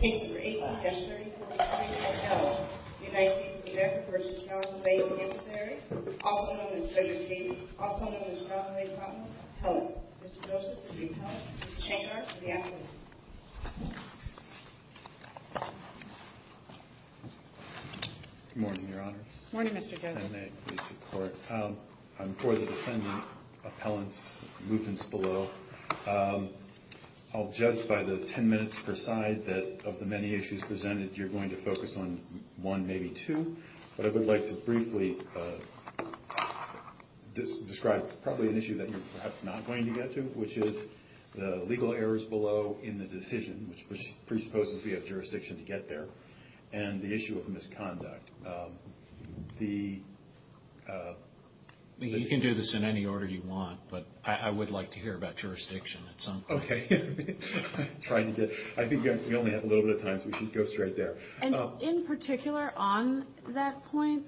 Case No. 18, S. 34, Harding v. Appellant, United States of America v. Charlotte and Bay Sanctuaries, also known as Frederick Davis, also known as Charlotte and Bay Pottinger, Appellant. Mr. Joseph for the Appellant, Mr. Chainer for the Appellant. Good morning, Your Honors. Good morning, Mr. Joseph. If I may, please, support. I'm for the defendant, Appellant's movements below. I'll judge by the 10 minutes per side that of the many issues presented, you're going to focus on one, maybe two. But I would like to briefly describe probably an issue that you're perhaps not going to get to, which is the legal errors below in the decision, which presupposes we have jurisdiction to get there, and the issue of misconduct. You can do this in any order you want, but I would like to hear about jurisdiction at some point. Okay. I think we only have a little bit of time, so we should go straight there. In particular, on that point,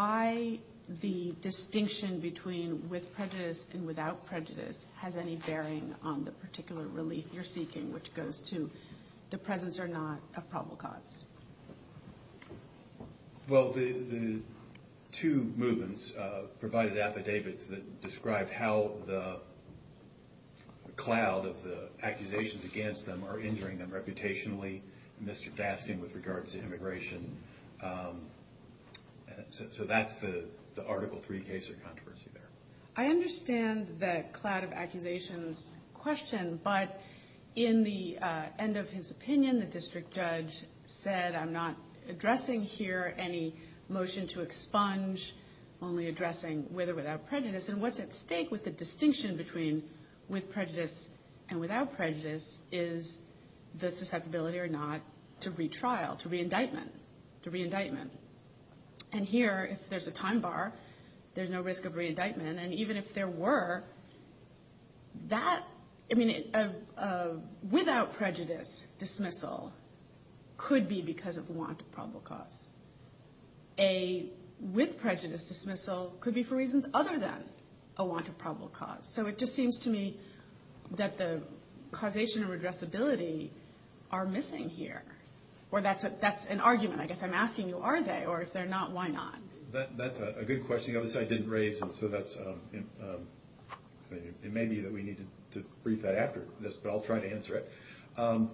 why the distinction between with prejudice and without prejudice has any bearing on the Well, the two movements provided affidavits that describe how the cloud of the accusations against them are injuring them reputationally, Mr. Dasken with regards to immigration. So that's the Article III case of controversy there. I understand the cloud of accusations question, but in the end of his opinion, the district judge said, I'm not addressing here any motion to expunge, only addressing with or without prejudice. And what's at stake with the distinction between with prejudice and without prejudice is the susceptibility or not to retrial, to reindictment, to reindictment. And here, if there's a time bar, there's no risk of reindictment. And even if there were, that, I mean, without prejudice dismissal could be because of want of probable cause. A with prejudice dismissal could be for reasons other than a want of probable cause. So it just seems to me that the causation of addressability are missing here. Or that's an argument, I guess I'm asking you, are they? Or if they're not, why not? That's a good question. The other side didn't raise it, so that's, it may be that we need to brief that after this, but I'll try to answer it.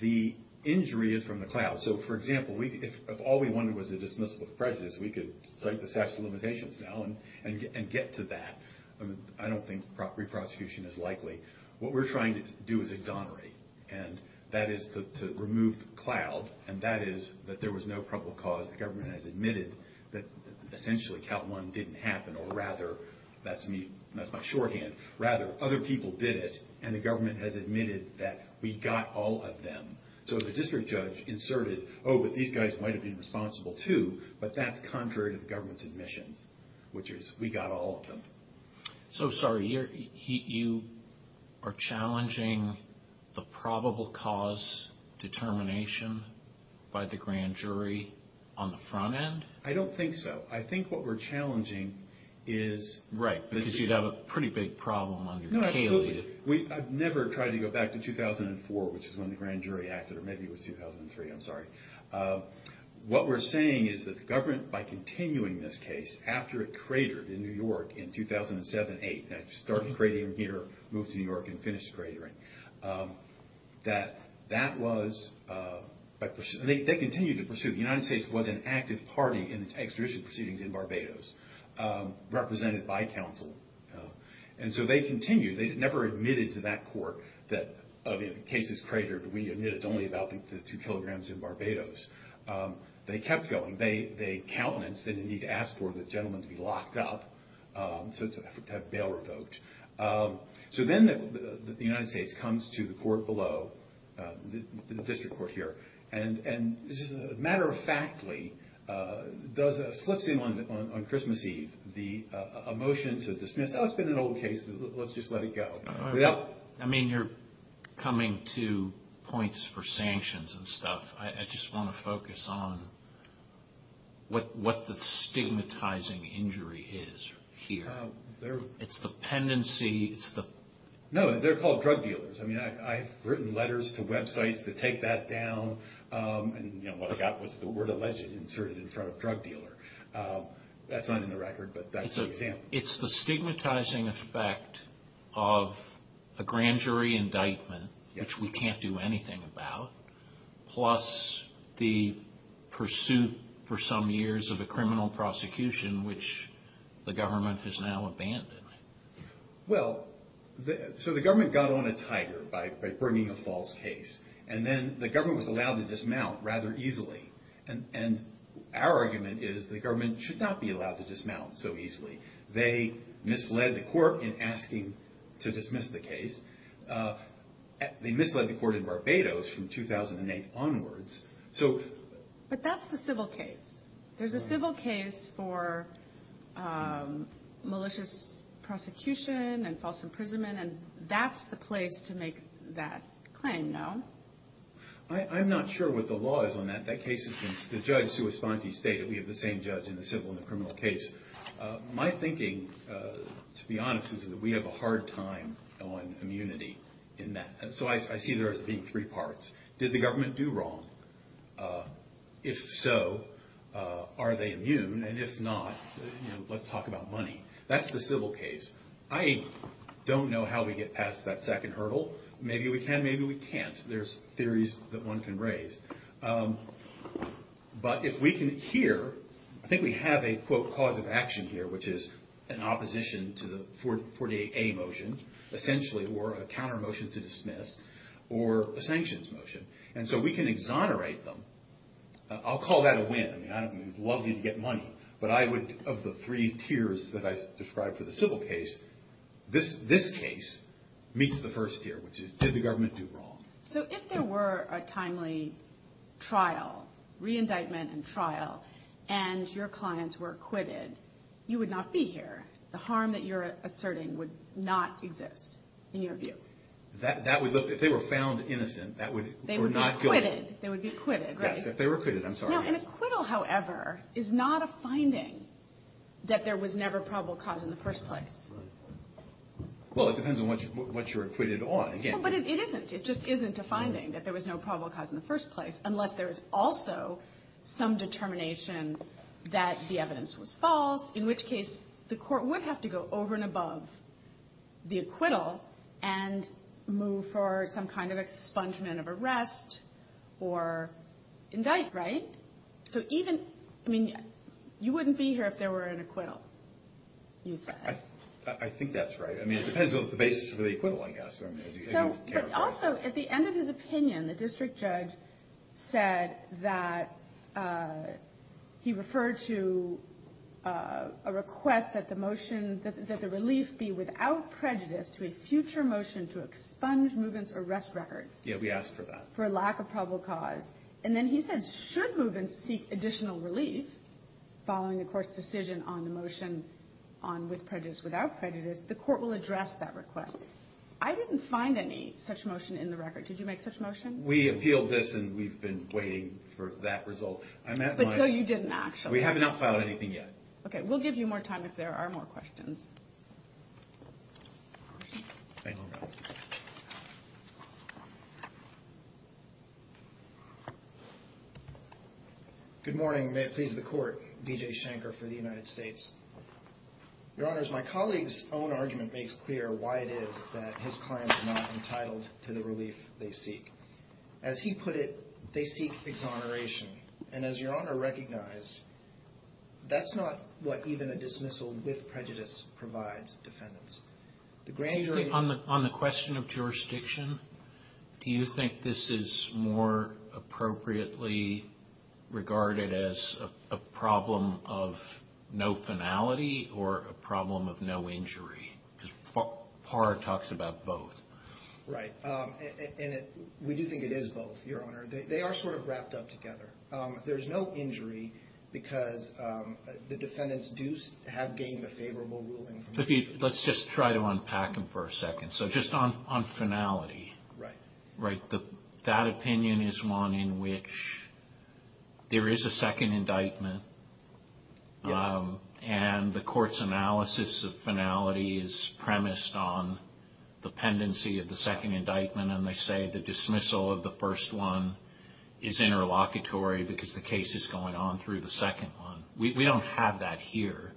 The injury is from the cloud. So, for example, if all we wanted was a dismissal of prejudice, we could cite the statute of limitations now and get to that. I don't think re-prosecution is likely. What we're trying to do is exonerate. And that is to remove the cloud, and that is that there was no probable cause. The government has admitted that, essentially, count one didn't happen, or rather, that's me, that's my shorthand, rather, other people did it, and the government has admitted that we got all of them. So the district judge inserted, oh, but these guys might have been responsible too, but that's contrary to the government's admissions, which is, we got all of them. So, sorry, you are challenging the probable cause determination by the grand jury on the front end? I don't think so. I think what we're challenging is... Right, because you'd have a pretty big problem under Caley. Absolutely. I've never tried to go back to 2004, which is when the grand jury acted, or maybe it was 2003, I'm sorry. What we're saying is that the government, by continuing this case, after it cratered in New York in 2007-8, and it started cratering here, moved to New York, and finished cratering, that that was, they continued to pursue, the United States was an active party in extradition proceedings in Barbados, represented by counsel. And so they continued, they never admitted to that court that, oh, the case has cratered, we admit it's only about the two kilograms in Barbados. They kept going, they countenanced, they didn't need to ask for the gentleman to be locked up, to have bail revoked. So then the United States comes to the court below, the district court here, and matter-of-factly, slips in on Christmas Eve, a motion to dismiss, oh, it's been an old case, let's just let it go. I mean, you're coming to points for sanctions and stuff. I just want to focus on what the stigmatizing injury is here. It's the pendency, it's the... No, they're called drug dealers. I mean, I've written letters to websites that take that down, and what I got was the word alleged inserted in front of drug dealer. That's not in the record, but that's an example. It's the stigmatizing effect of a grand jury indictment, which we can't do anything about, plus the pursuit for some years of a criminal prosecution, which the government has now abandoned. Well, so the government got on a tiger by bringing a false case, and then the government was allowed to dismount rather easily. And our argument is the government should not be allowed to dismount so easily. They misled the court in asking to dismiss the case. They misled the court in Barbados from 2008 onwards. But that's the civil case. There's a civil case for malicious prosecution and false imprisonment, and that's the place to make that claim, no? I'm not sure what the law is on that. That case has been, the judge, Sue Esponti, stated we have the same judge in the civil and the criminal case. My thinking, to be honest, is that we have a hard time on immunity in that. So I see there as being three parts. Did the government do wrong? If so, are they immune? And if not, let's talk about money. That's the civil case. I don't know how we get past that second hurdle. Maybe we can, maybe we can't. There's theories that one can raise. But if we can hear, I think we have a, quote, cause of action here, which is an opposition to the 48A motion, essentially, or a counter motion to dismiss, or a sanctions motion. And so we can exonerate them. I'll call that a win. I mean, it would be lovely to get money. But I would, of the three tiers that I described for the civil case, this case meets the first tier, which is did the government do wrong? So if there were a timely trial, re-indictment and trial, and your clients were acquitted, you would not be here. The harm that you're asserting would not exist, in your view. So that would look, if they were found innocent, that would, they were not guilty. They would be acquitted. They would be acquitted, right? Yes, if they were acquitted. I'm sorry. An acquittal, however, is not a finding that there was never probable cause in the first place. Well, it depends on what you're acquitted on, again. But it isn't. It just isn't a finding that there was no probable cause in the first place, unless there is also some determination that the evidence was false, in which case the court would have to go over and above the acquittal and move for some kind of expungement of arrest or indict, right? So even, I mean, you wouldn't be here if there were an acquittal, you said. I think that's right. I mean, it depends on the basis of the acquittal, I guess. I don't care. But also, at the end of his opinion, the district judge said that he referred to a request that the motion, that the relief be without prejudice to a future motion to expunge Mugan's arrest records. Yeah, we asked for that. For lack of probable cause. And then he said, should Mugan seek additional relief following the court's decision on the motion on with prejudice, without prejudice, the court will address that request. I didn't find any such motion in the record. Did you make such motion? We appealed this, and we've been waiting for that result. But so you didn't actually. We have not filed anything yet. Okay, we'll give you more time if there are more questions. Good morning. May it please the court. Vijay Shankar for the United States. Your Honors, my colleague's own argument makes clear why it is that his client is not entitled to the relief they seek. As he put it, they seek exoneration. And as Your Honor recognized, that's not what even a dismissal with prejudice provides defendants. On the question of jurisdiction, do you think this is more appropriately regarded as a problem of no finality or a problem of no injury? Because Parr talks about both. Right. And we do think it is both, Your Honor. They are sort of wrapped up together. There's no injury because the defendants do have gained a favorable ruling. Let's just try to unpack them for a second. So just on finality. Right. Right. That opinion is one in which there is a second indictment, and the court's analysis of finality is premised on the pendency of the second indictment, and they say the dismissal of the first one is interlocutory because the case is going on through the second one. We don't have that here.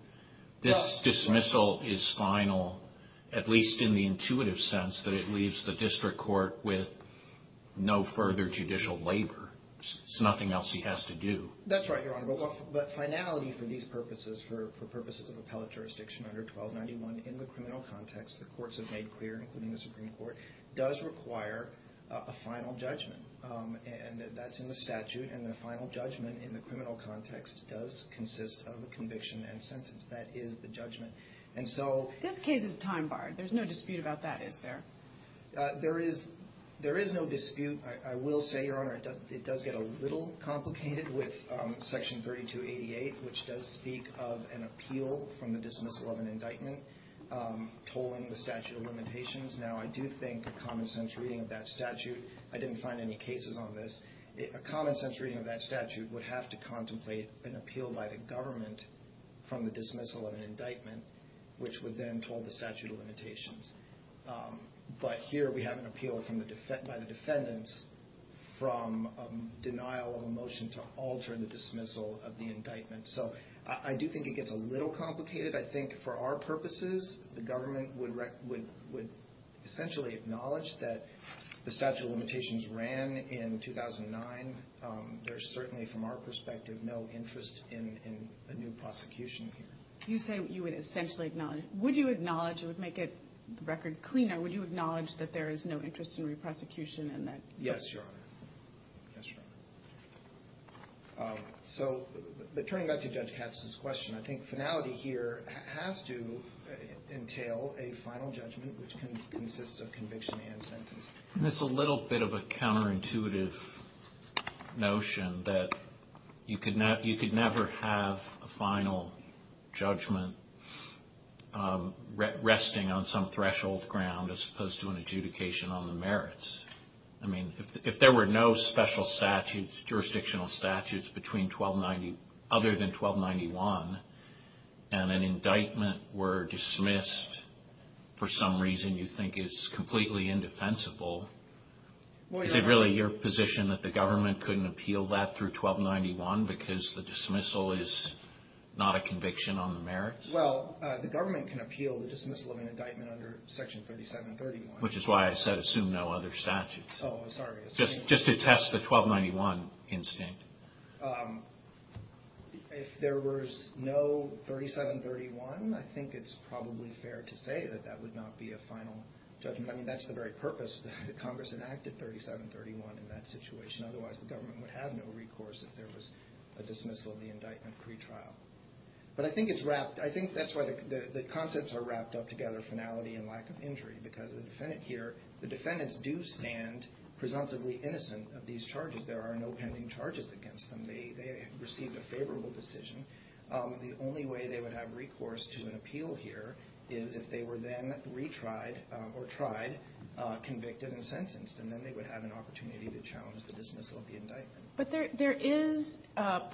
This dismissal is final, at least in the intuitive sense, that it leaves the district court with no further judicial labor. There's nothing else he has to do. That's right, Your Honor, but finality for these purposes, for purposes of appellate jurisdiction under 1291 in the criminal context, the courts have made clear, including the Supreme Court, does require a final judgment, and that's in the statute, and the final judgment in the criminal context does consist of a conviction and sentence. That is the judgment. This case is time-barred. There's no dispute about that, is there? There is no dispute. I will say, Your Honor, it does get a little complicated with Section 3288, which does speak of an appeal from the dismissal of an indictment tolling the statute of limitations. Now, I do think a common-sense reading of that statute, I didn't find any cases on this, a common-sense reading of that statute would have to contemplate an appeal by the government from the dismissal of an indictment, which would then toll the statute of limitations. But here we have an appeal by the defendants from denial of a motion to alter the dismissal of the indictment. So I do think it gets a little complicated. I think for our purposes the government would essentially acknowledge that the statute of limitations ran in 2009. There's certainly, from our perspective, no interest in a new prosecution here. You say you would essentially acknowledge. And would you acknowledge, it would make it a record cleaner, would you acknowledge that there is no interest in a new prosecution and that? Yes, Your Honor. Yes, Your Honor. So turning back to Judge Katz's question, I think finality here has to entail a final judgment, which can consist of conviction and sentence. And it's a little bit of a counterintuitive notion that you could never have a final judgment resting on some threshold ground as opposed to an adjudication on the merits. I mean, if there were no special statutes, jurisdictional statutes between 1290, other than 1291, and an indictment were dismissed, for some reason you think is completely indefensible, is it really your position that the government couldn't appeal that through 1291 because the dismissal is not a conviction on the merits? Well, the government can appeal the dismissal of an indictment under Section 3731. Which is why I said assume no other statutes. Oh, sorry. Just to test the 1291 instinct. If there was no 3731, I think it's probably fair to say that that would not be a final judgment. I mean, that's the very purpose that Congress enacted 3731 in that situation. Otherwise, the government would have no recourse if there was a dismissal of the indictment pretrial. But I think that's why the concepts are wrapped up together, finality and lack of injury, because the defendants do stand presumptively innocent of these charges. There are no pending charges against them. They received a favorable decision. The only way they would have recourse to an appeal here is if they were then retried or tried, convicted, and sentenced. And then they would have an opportunity to challenge the dismissal of the indictment. But there is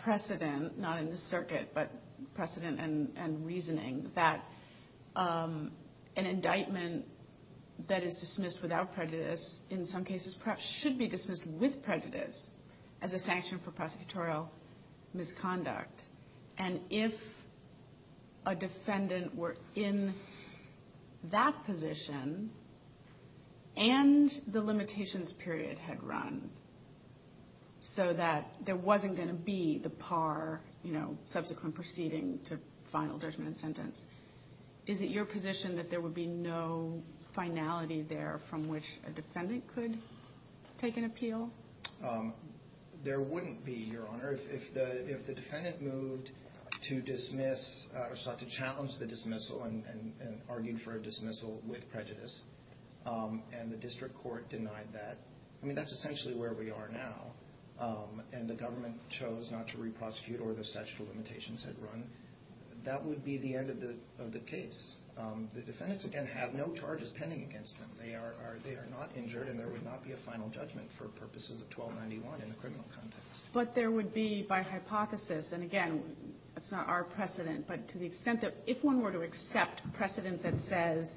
precedent, not in this circuit, but precedent and reasoning, that an indictment that is dismissed without prejudice in some cases perhaps should be dismissed with prejudice as a sanction for prosecutorial misconduct. And if a defendant were in that position and the limitations period had run so that there wasn't going to be the par, you know, subsequent proceeding to final judgment and sentence, is it your position that there would be no finality there from which a defendant could take an appeal? There wouldn't be, Your Honor. If the defendant moved to dismiss or sought to challenge the dismissal and argued for a dismissal with prejudice, and the district court denied that, I mean, that's essentially where we are now, and the government chose not to re-prosecute or the statute of limitations had run, that would be the end of the case. The defendants, again, have no charges pending against them. They are not injured and there would not be a final judgment for purposes of 1291 in the criminal context. But there would be, by hypothesis, and again, that's not our precedent, but to the extent that if one were to accept precedent that says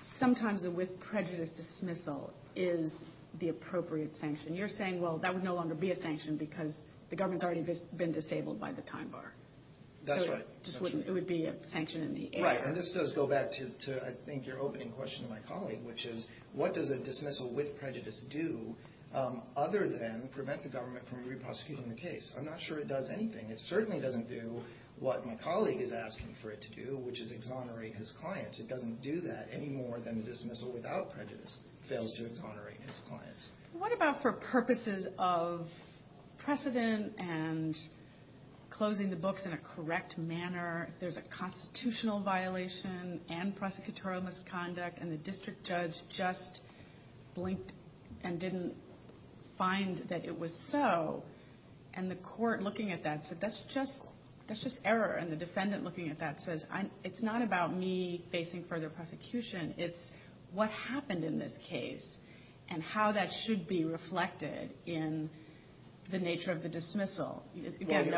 sometimes with prejudice dismissal is the appropriate sanction, you're saying, well, that would no longer be a sanction because the government's already been disabled by the time bar. That's right. So it would be a sanction in the air. Right, and this does go back to, I think, your opening question to my colleague, which is what does a dismissal with prejudice do other than prevent the government from re-prosecuting the case? I'm not sure it does anything. It certainly doesn't do what my colleague is asking for it to do, which is exonerate his clients. It doesn't do that any more than a dismissal without prejudice fails to exonerate his clients. What about for purposes of precedent and closing the books in a correct manner, there's a constitutional violation and prosecutorial misconduct, and the district judge just blinked and didn't find that it was so, and the court looking at that said, that's just error, and the defendant looking at that says, it's not about me facing further prosecution. It's what happened in this case and how that should be reflected in the nature of the dismissal. The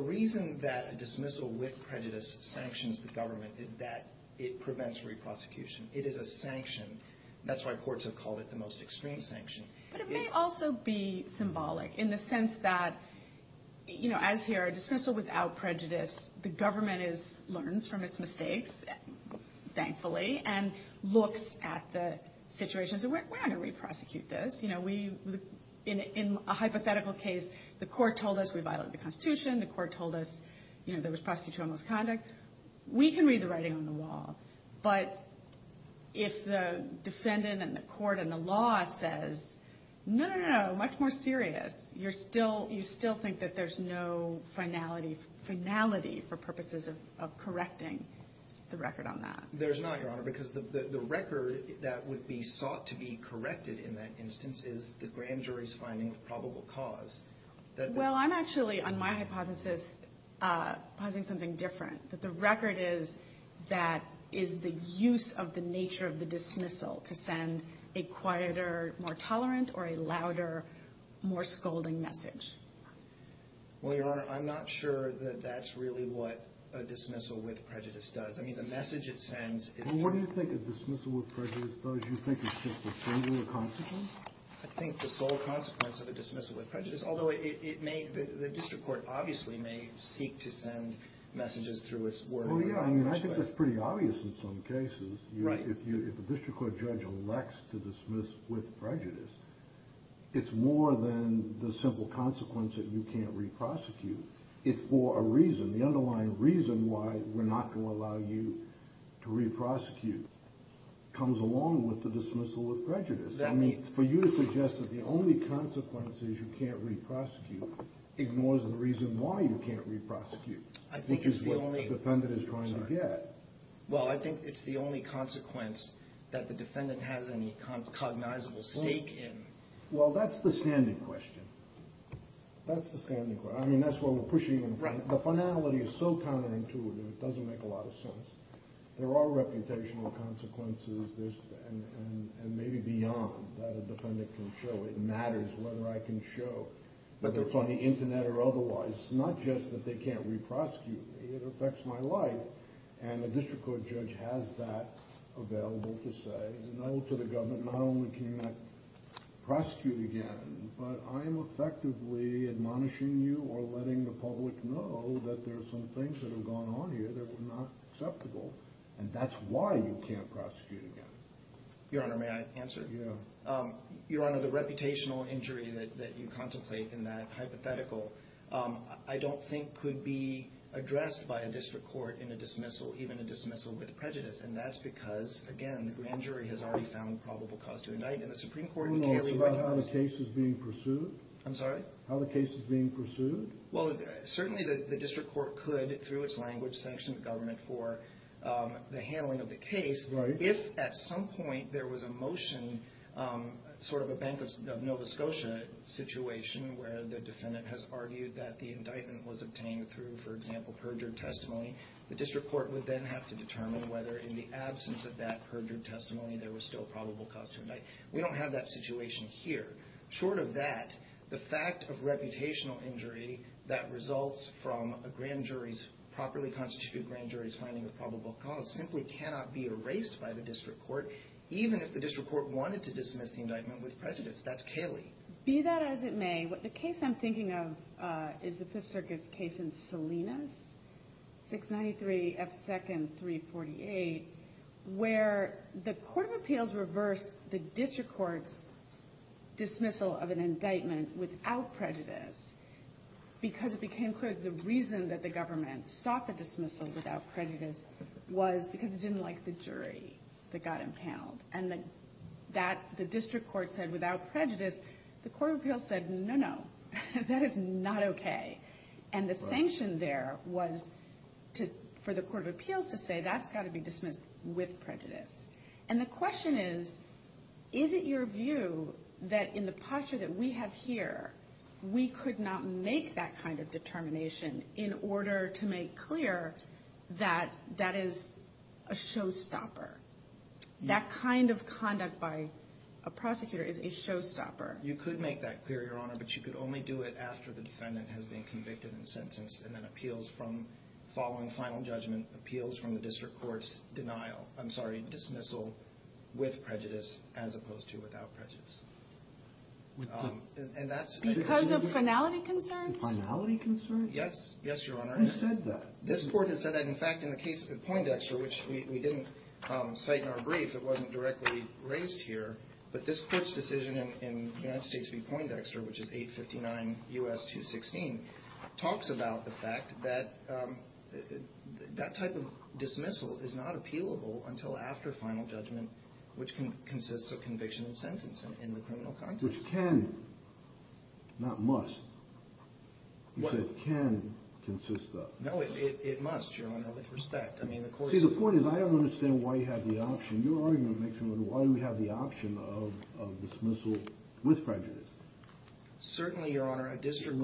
reason that a dismissal with prejudice sanctions the government is that it prevents re-prosecution. It is a sanction. That's why courts have called it the most extreme sanction. But it may also be symbolic in the sense that, as here, a dismissal without prejudice, the government learns from its mistakes, thankfully, and looks at the situation and says, we're not going to re-prosecute this. In a hypothetical case, the court told us we violated the Constitution. The court told us there was prosecutorial misconduct. We can read the writing on the wall. But if the defendant and the court and the law says, no, no, no, much more serious, you still think that there's no finality for purposes of correcting the record on that. There's not, Your Honor, because the record that would be sought to be corrected in that instance is the grand jury's finding of probable cause. Well, I'm actually, on my hypothesis, posing something different, that the record is that is the use of the nature of the dismissal to send a quieter, more tolerant, or a louder, more scolding message. Well, Your Honor, I'm not sure that that's really what a dismissal with prejudice does. I mean, the message it sends is through. Well, what do you think a dismissal with prejudice does? You think it's just a single consequence? I think the sole consequence of a dismissal with prejudice, although it may, the district court obviously may seek to send messages through its word. Well, yeah, I mean, I think that's pretty obvious in some cases. Right. If a district court judge elects to dismiss with prejudice, it's more than the simple consequence that you can't re-prosecute. It's for a reason. The underlying reason why we're not going to allow you to re-prosecute comes along with the dismissal with prejudice. I mean, for you to suggest that the only consequence is you can't re-prosecute ignores the reason why you can't re-prosecute, I think is what the defendant is trying to get. Well, I think it's the only consequence that the defendant has any cognizable stake in. Well, that's the standing question. That's the standing question. I mean, that's what we're pushing in front. Right. The finality is so counterintuitive, it doesn't make a lot of sense. There are reputational consequences, and maybe beyond, that a defendant can show. It matters whether I can show, whether it's on the Internet or otherwise, not just that they can't re-prosecute me. It affects my life, and a district court judge has that available to say, no, to the government, not only can you not prosecute again, but I am effectively admonishing you or letting the public know that there are some things that have gone on here that were not acceptable, and that's why you can't prosecute again. Your Honor, may I answer? Yeah. Your Honor, the reputational injury that you contemplate in that hypothetical, I don't think could be addressed by a district court in a dismissal, even a dismissal with prejudice, and that's because, again, the grand jury has already found probable cause to indict, and the Supreme Court in Caley- Who knows about how the case is being pursued? I'm sorry? How the case is being pursued? Well, certainly the district court could, through its language, sanction the government for the handling of the case. Right. If at some point there was a motion, sort of a Bank of Nova Scotia situation, where the defendant has argued that the indictment was obtained through, for example, perjured testimony, the district court would then have to determine whether in the absence of that perjured testimony there was still probable cause to indict. We don't have that situation here. Short of that, the fact of reputational injury that results from a grand jury's, properly constituted grand jury's, finding of probable cause simply cannot be erased by the district court, even if the district court wanted to dismiss the indictment with prejudice. That's Caley. Be that as it may, the case I'm thinking of is the Fifth Circuit's case in Salinas, 693F2nd348, where the court of appeals reversed the district court's dismissal of an indictment without prejudice because it became clear that the reason that the government sought the dismissal without prejudice was because it didn't like the jury that got impaneled. And the district court said, without prejudice, the court of appeals said, no, no, that is not okay. And the sanction there was for the court of appeals to say, that's got to be dismissed with prejudice. And the question is, is it your view that in the posture that we have here, we could not make that kind of determination in order to make clear that that is a showstopper? That kind of conduct by a prosecutor is a showstopper. You could make that clear, Your Honor, but you could only do it after the defendant has been convicted and sentenced, and then appeals from, following final judgment, appeals from the district court's denial, I'm sorry, dismissal with prejudice as opposed to without prejudice. Because of finality concerns? Finality concerns? Yes, Your Honor. Who said that? This court has said that. In fact, in the case of Poindexter, which we didn't cite in our brief, it wasn't directly raised here, but this court's decision in the United States v. Poindexter, which is 859 U.S. 216, talks about the fact that that type of dismissal is not appealable until after final judgment, which consists of conviction and sentence in the criminal context. Which can, not must, you said can consist of. No, it must, Your Honor, with respect. See, the point is, I don't understand why you have the option, and your argument makes me wonder, why do we have the option of dismissal with prejudice? Certainly, Your Honor, a district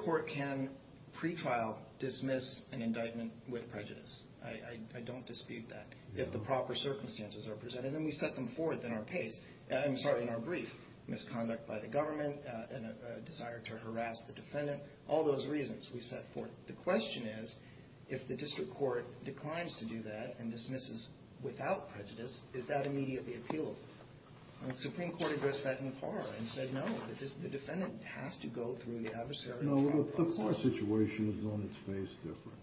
court can, pre-trial, dismiss an indictment with prejudice. I don't dispute that. If the proper circumstances are presented, and we set them forth in our case, I'm sorry, in our brief, misconduct by the government, and a desire to harass the defendant, all those reasons we set forth. The question is, if the district court declines to do that, and dismisses without prejudice, is that immediately appealable? The Supreme Court addressed that in Parr, and said no, the defendant has to go through the adversary trial process. No, the Parr situation is on its face different.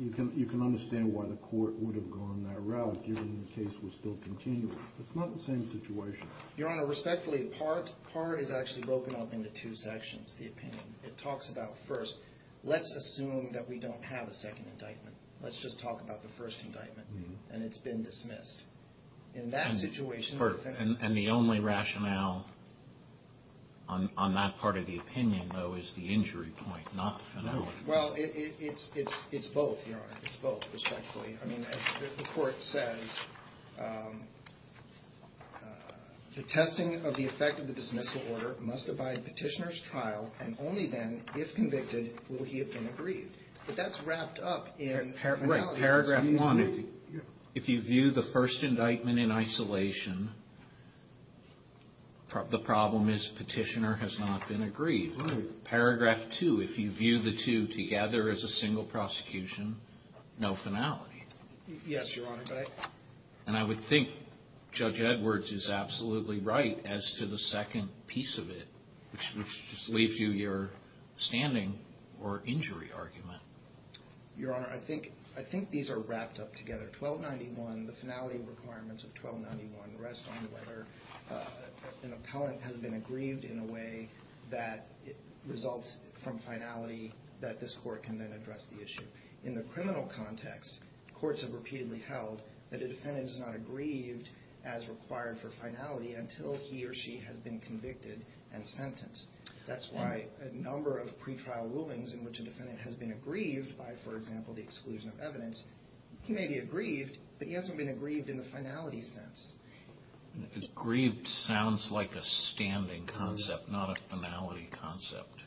You can understand why the court would have gone that route, given the case was still continuing. It's not the same situation. Your Honor, respectfully, Parr is actually broken up into two sections, the opinion. It talks about first, let's assume that we don't have a second indictment. Let's just talk about the first indictment. And it's been dismissed. In that situation, the defendant... And the only rationale on that part of the opinion, though, is the injury point, not the finality. Well, it's both, Your Honor. It's both, respectfully. I mean, as the court says, the testing of the effect of the dismissal order must abide Petitioner's trial, and only then, if convicted, will he have been aggrieved. But that's wrapped up in finality. Right. Paragraph 1, if you view the first indictment in isolation, the problem is Petitioner has not been aggrieved. Right. Paragraph 2, if you view the two together as a single prosecution, no finality. Yes, Your Honor, but I... I think Judge Edwards is absolutely right as to the second piece of it, which just leaves you your standing or injury argument. Your Honor, I think these are wrapped up together. 1291, the finality requirements of 1291 rest on whether an appellant has been aggrieved in a way that results from finality that this court can then address the issue. In the criminal context, courts have repeatedly held that a defendant is not aggrieved as required for finality until he or she has been convicted and sentenced. That's why a number of pretrial rulings in which a defendant has been aggrieved by, for example, the exclusion of evidence, he may be aggrieved, but he hasn't been aggrieved in the finality sense. Aggrieved sounds like a standing concept, not a finality concept.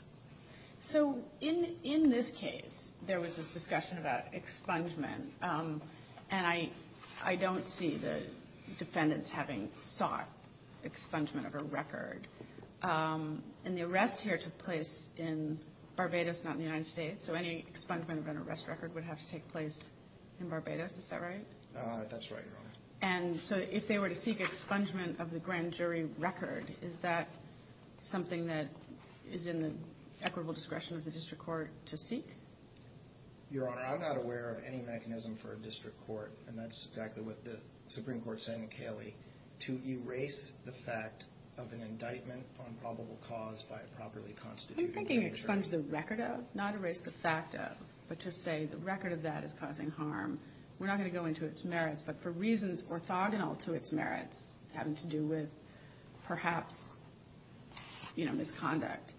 So in this case, there was this discussion about expungement, and I don't see the defendants having sought expungement of a record. And the arrest here took place in Barbados, not in the United States, so any expungement of an arrest record would have to take place in Barbados. Is that right? That's right, Your Honor. And so if they were to seek expungement of the grand jury record, is that something that is in the equitable discretion of the district court to seek? Your Honor, I'm not aware of any mechanism for a district court, and that's exactly what the Supreme Court is saying to Cayley, to erase the fact of an indictment on probable cause by a properly constituted jury. Are you thinking expunge the record of, not erase the fact of, but to say the record of that is causing harm? We're not going to go into its merits, but for reasons orthogonal to its merits, having to do with perhaps misconduct,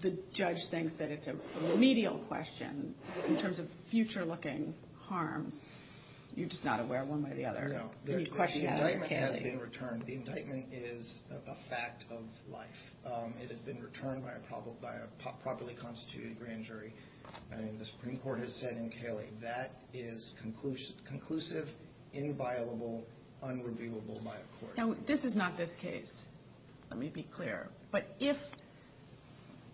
the judge thinks that it's a remedial question in terms of future-looking harms. You're just not aware one way or the other. No. The indictment has been returned. The indictment is a fact of life. It has been returned by a properly constituted grand jury. The Supreme Court has said in Cayley that is conclusive, inviolable, unreviewable by a court. Now, this is not this case, let me be clear. But if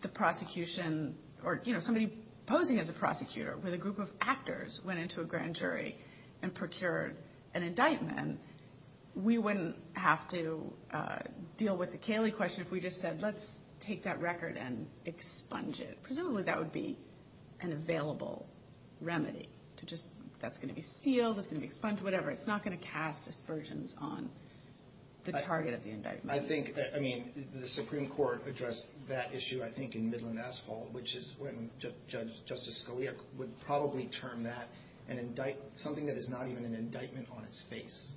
the prosecution or somebody posing as a prosecutor with a group of actors went into a grand jury and procured an indictment, we wouldn't have to deal with the Cayley question if we just said, let's take that record and expunge it. Presumably that would be an available remedy. That's going to be sealed, it's going to be expunged, whatever. It's not going to cast aspersions on the target of the indictment. I think the Supreme Court addressed that issue, I think, in Midland Asphalt, which is when Justice Scalia would probably term that something that is not even an indictment on its face.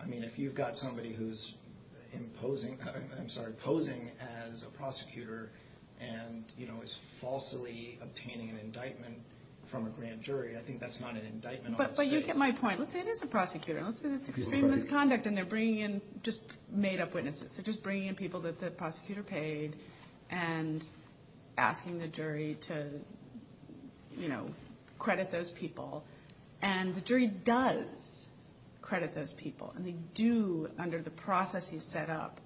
I mean, if you've got somebody who's posing as a prosecutor and is falsely obtaining an indictment from a grand jury, I think that's not an indictment on its face. But you get my point. Let's say it is a prosecutor. Let's say it's extreme misconduct and they're bringing in just made-up witnesses. They're just bringing in people that the prosecutor paid and asking the jury to credit those people. And the jury does credit those people. And they do under the process he's set up.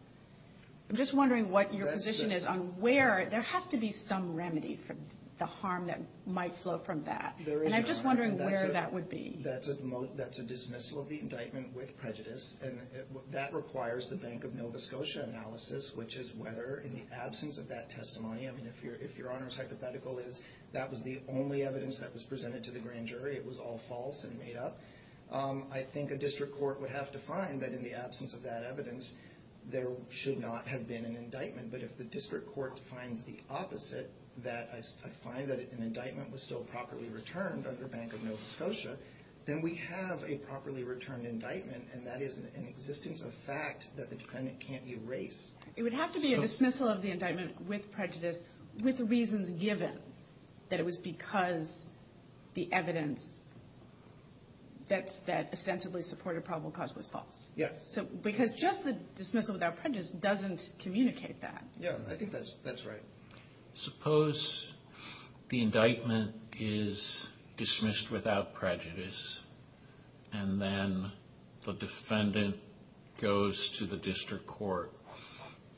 I'm just wondering what your position is on where – there has to be some remedy for the harm that might flow from that. There is a remedy. And I'm just wondering where that would be. That's a dismissal of the indictment with prejudice. And that requires the Bank of Nova Scotia analysis, which is whether in the absence of that testimony – I mean, if Your Honor's hypothetical is that was the only evidence that was presented to the grand jury, it was all false and made up, I think a district court would have to find that in the absence of that evidence, there should not have been an indictment. But if the district court finds the opposite, that I find that an indictment was still properly returned under Bank of Nova Scotia, then we have a properly returned indictment, and that is an existence of fact that the defendant can't erase. It would have to be a dismissal of the indictment with prejudice with reasons given that it was because the evidence that ostensibly supported probable cause was false. Yes. Because just the dismissal without prejudice doesn't communicate that. Yeah, I think that's right. Suppose the indictment is dismissed without prejudice, and then the defendant goes to the district court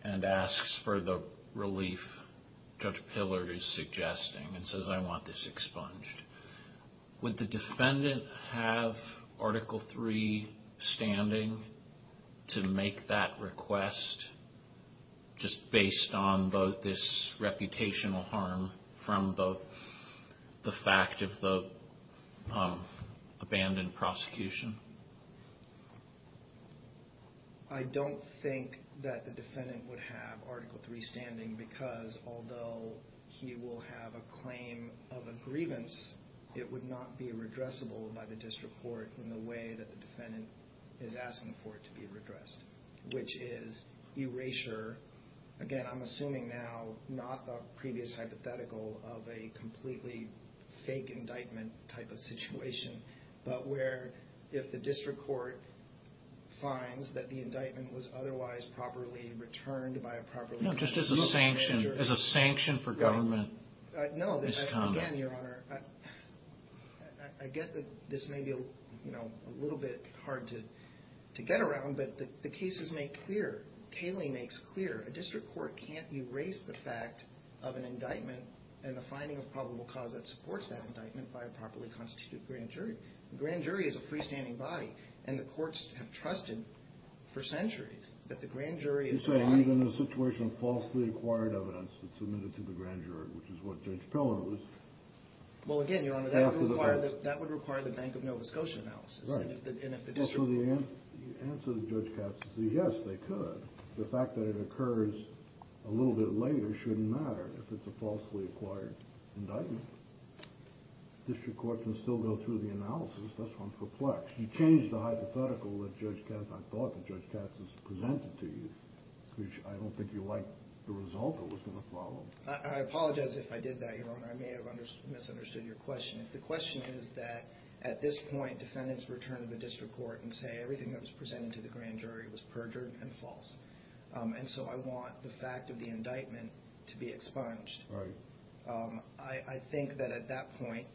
and asks for the relief Judge Pillard is suggesting and says, I want this expunged. Would the defendant have Article III standing to make that request just based on this reputational harm from the fact of the abandoned prosecution? I don't think that the defendant would have Article III standing because although he will have a claim of a grievance, it would not be redressable by the district court in the way that the defendant is asking for it to be redressed, which is erasure. Again, I'm assuming now not a previous hypothetical of a completely fake indictment type of situation, but where if the district court finds that the indictment was otherwise properly returned by a properly returned judge. No, just as a sanction for government misconduct. No, again, Your Honor, I get that this may be a little bit hard to get around, but the cases make clear, Cayley makes clear, a district court can't erase the fact of an indictment and the finding of probable cause that supports that indictment by a properly constituted grand jury. A grand jury is a freestanding body, and the courts have trusted for centuries that the grand jury is a body. You're saying even in a situation of falsely acquired evidence that's submitted to the grand jury, which is what Judge Pillard was after the fact. Well, again, Your Honor, that would require the Bank of Nova Scotia analysis. So the answer to Judge Katz is yes, they could. The fact that it occurs a little bit later shouldn't matter if it's a falsely acquired indictment. The district court can still go through the analysis. That's why I'm perplexed. You changed the hypothetical that Judge Katz, I thought that Judge Katz has presented to you, which I don't think you liked the result that was going to follow. I apologize if I did that, Your Honor. I may have misunderstood your question. If the question is that at this point defendants return to the district court and say everything that was presented to the grand jury was perjured and false, and so I want the fact of the indictment to be expunged, I think that at that point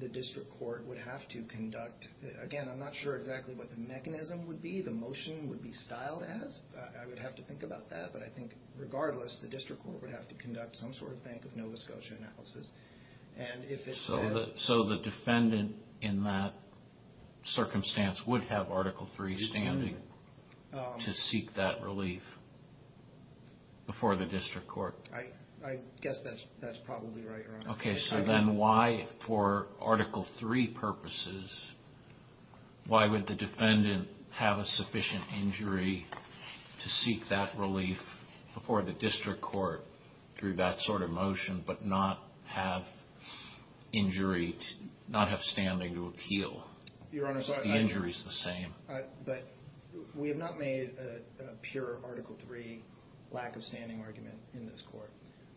the district court would have to conduct – again, I'm not sure exactly what the mechanism would be, the motion would be styled as. I would have to think about that. But I think regardless, the district court would have to conduct some sort of Bank of Nova Scotia analysis. So the defendant in that circumstance would have Article III standing to seek that relief before the district court? I guess that's probably right, Your Honor. Okay, so then why for Article III purposes, why would the defendant have a sufficient injury to seek that relief before the district court through that sort of motion but not have standing to appeal? The injury is the same. But we have not made a pure Article III lack of standing argument in this court.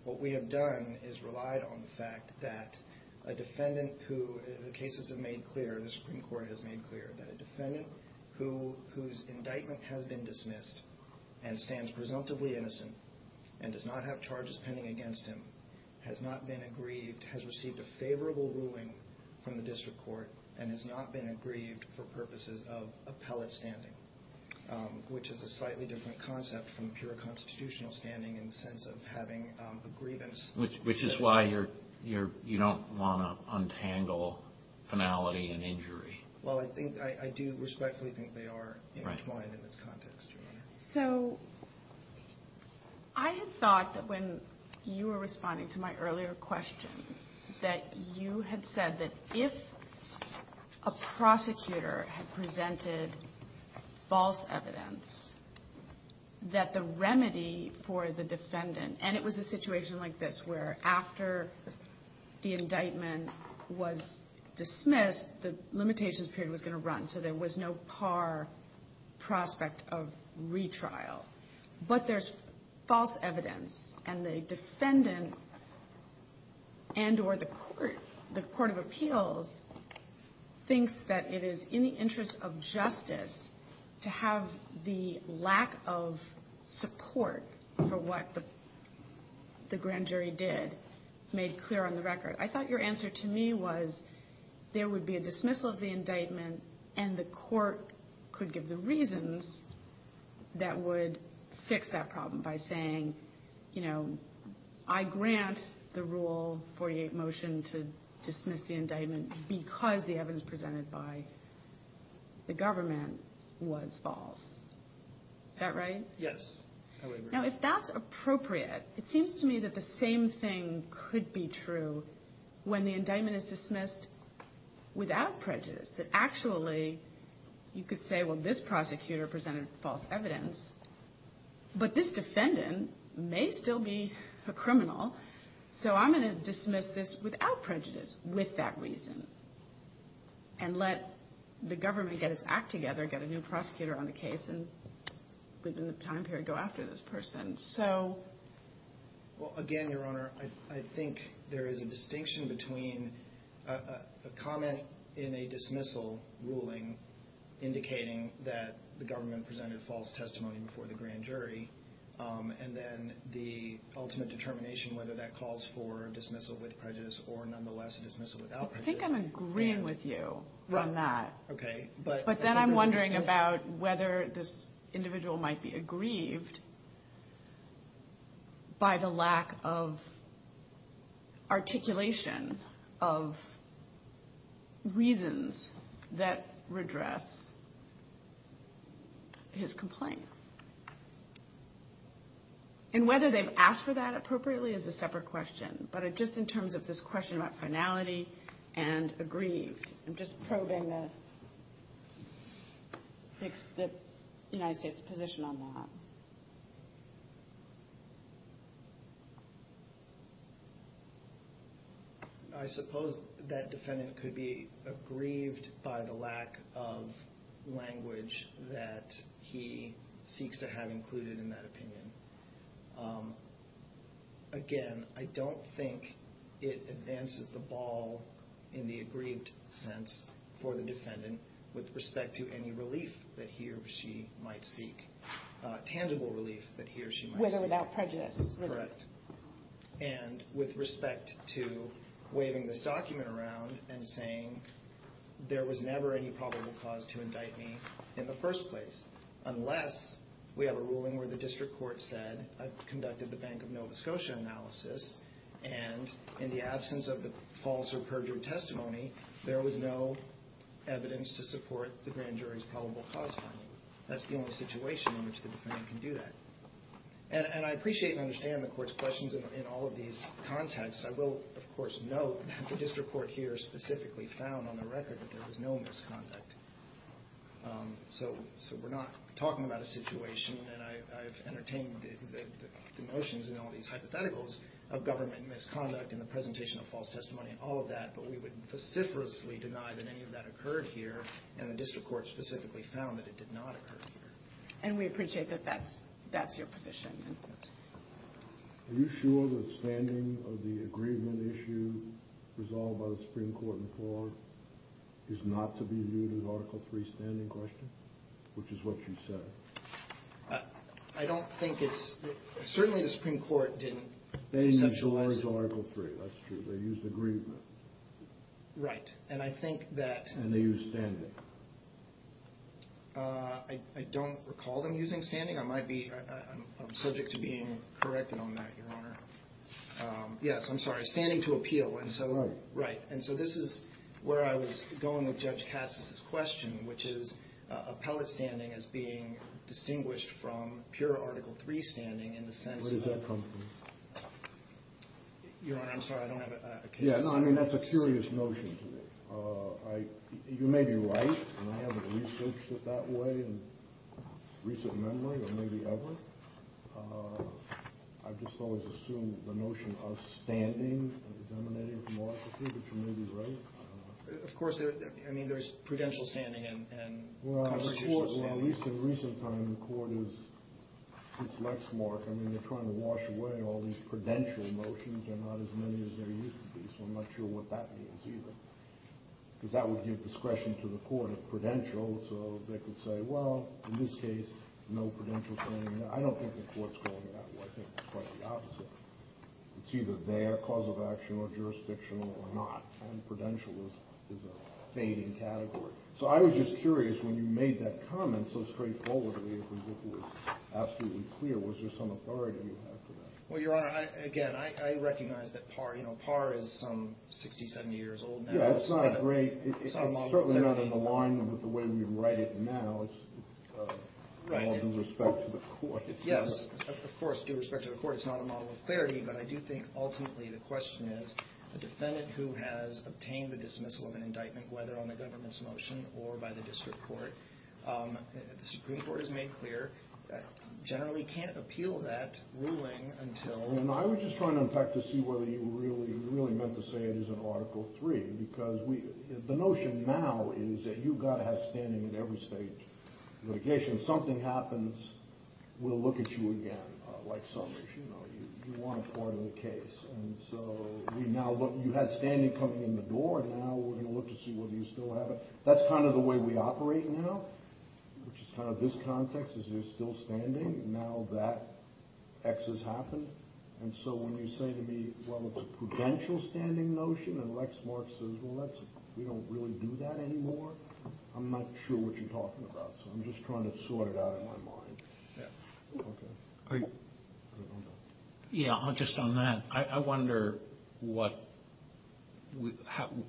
What we have done is relied on the fact that a defendant who – the cases have made clear, the Supreme Court has made clear, that a defendant whose indictment has been dismissed and stands presumptively innocent and does not have charges pending against him has not been aggrieved, has received a favorable ruling from the district court, and has not been aggrieved for purposes of appellate standing, which is a slightly different concept from pure constitutional standing in the sense of having a grievance. Which is why you don't want to untangle finality and injury. Well, I do respectfully think they are intertwined in this context, Your Honor. So I had thought that when you were responding to my earlier question, that you had said that if a prosecutor had presented false evidence, that the remedy for the defendant – and it was a situation like this, where after the indictment was dismissed, the limitations period was going to run, so there was no par prospect of retrial. But there's false evidence, and the defendant and or the court of appeals thinks that it is in the interest of justice to have the lack of support for what the grand jury did, made clear on the record. I thought your answer to me was there would be a dismissal of the indictment, and the court could give the reasons that would fix that problem by saying, you know, I grant the Rule 48 motion to dismiss the indictment because the evidence presented by the government was false. Is that right? Yes. Now, if that's appropriate, it seems to me that the same thing could be true when the indictment is dismissed without prejudice, that actually you could say, well, this prosecutor presented false evidence, but this defendant may still be a criminal, so I'm going to dismiss this without prejudice with that reason and let the government get its act together, get a new prosecutor on the case and within the time period go after this person. Again, Your Honor, I think there is a distinction between a comment in a dismissal ruling indicating that the government presented false testimony before the grand jury and then the ultimate determination whether that calls for a dismissal with prejudice or nonetheless a dismissal without prejudice. I think I'm agreeing with you on that. Okay. But then I'm wondering about whether this individual might be aggrieved by the lack of articulation of reasons that redress his complaint. And whether they've asked for that appropriately is a separate question, but just in terms of this question about finality and aggrieved, I'm just probing the United States' position on that. I suppose that defendant could be aggrieved by the lack of language that he seeks to have included in that opinion. Again, I don't think it advances the ball in the aggrieved sense for the defendant with respect to any relief that he or she might seek, tangible relief that he or she might seek. Whether without prejudice. Correct. And with respect to waving this document around and saying there was never any probable cause to indict me in the first place unless we have a ruling where the district court said I've conducted the Bank of Nova Scotia analysis and in the absence of the false or perjured testimony, there was no evidence to support the grand jury's probable cause finding. That's the only situation in which the defendant can do that. And I appreciate and understand the court's questions in all of these contexts. I will, of course, note that the district court here specifically found on the record that there was no misconduct. So we're not talking about a situation, and I've entertained the notions in all these hypotheticals of government misconduct and the presentation of false testimony and all of that, but we would vociferously deny that any of that occurred here, and the district court specifically found that it did not occur here. And we appreciate that that's your position. Are you sure that standing of the agreement issue resolved by the Supreme Court in Ford is not to be viewed as an Article III standing question, which is what you said? I don't think it's—certainly the Supreme Court didn't conceptualize it. They initialized Article III. That's true. They used agreement. Right, and I think that— And they used standing. I don't recall them using standing. I might be—I'm subject to being corrected on that, Your Honor. Yes, I'm sorry, standing to appeal, and so— Right. Right, and so this is where I was going with Judge Katz's question, which is appellate standing as being distinguished from pure Article III standing in the sense of— Where does that come from? Your Honor, I'm sorry, I don't have a case to— Yeah, no, I mean, that's a curious notion to me. You may be right, and I haven't researched it that way in recent memory, or maybe ever. I've just always assumed the notion of standing is emanating from Article III, which you may be right. Of course, I mean, there's prudential standing and constitutional standing. Well, in recent times, the Court has—since Lexmark, I mean, they're trying to wash away all these prudential motions. They're not as many as they used to be, so I'm not sure what that means either, because that would give discretion to the Court of Prudential, so they could say, well, in this case, no prudential standing. I don't think the Court's going that way. I think it's quite the opposite. It's either their cause of action or jurisdictional or not, and prudential is a fading category. So I was just curious, when you made that comment so straightforwardly, if it was absolutely clear, was there some authority you had for that? Well, Your Honor, again, I recognize that par is some 60, 70 years old now. Yeah, it's not great. It's certainly not in alignment with the way we write it now. It's all due respect to the Court. Yes, of course, due respect to the Court. It's not a model of clarity, but I do think ultimately the question is, the defendant who has obtained the dismissal of an indictment, whether on the government's motion or by the district court, the Supreme Court has made clear generally can't appeal that ruling until— I was just trying to unpack to see whether you really meant to say it isn't Article III, because the notion now is that you've got to have standing in every state litigation. If something happens, we'll look at you again, like summers. You want a part in the case. And so you had standing coming in the door, and now we're going to look to see whether you still have it. That's kind of the way we operate now, which is kind of this context, is you're still standing, now that X has happened. And so when you say to me, well, it's a prudential standing notion, and Lex Mark says, well, we don't really do that anymore, I'm not sure what you're talking about. So I'm just trying to sort it out in my mind. Yeah, just on that, I wonder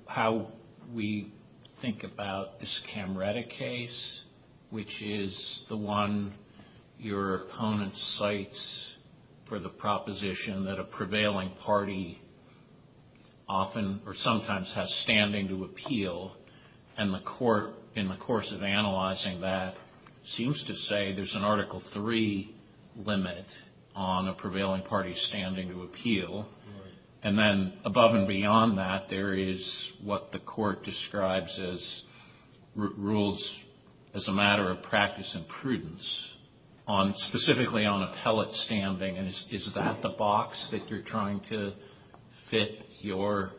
how we think about this Camretta case, which is the one your opponent cites for the proposition that a prevailing party often or sometimes has standing to appeal. And the court, in the course of analyzing that, seems to say there's an Article III limit on a prevailing party's standing to appeal. And then above and beyond that, there is what the court describes as rules as a matter of practice and prudence, specifically on appellate standing. And is that the box that you're trying to fit your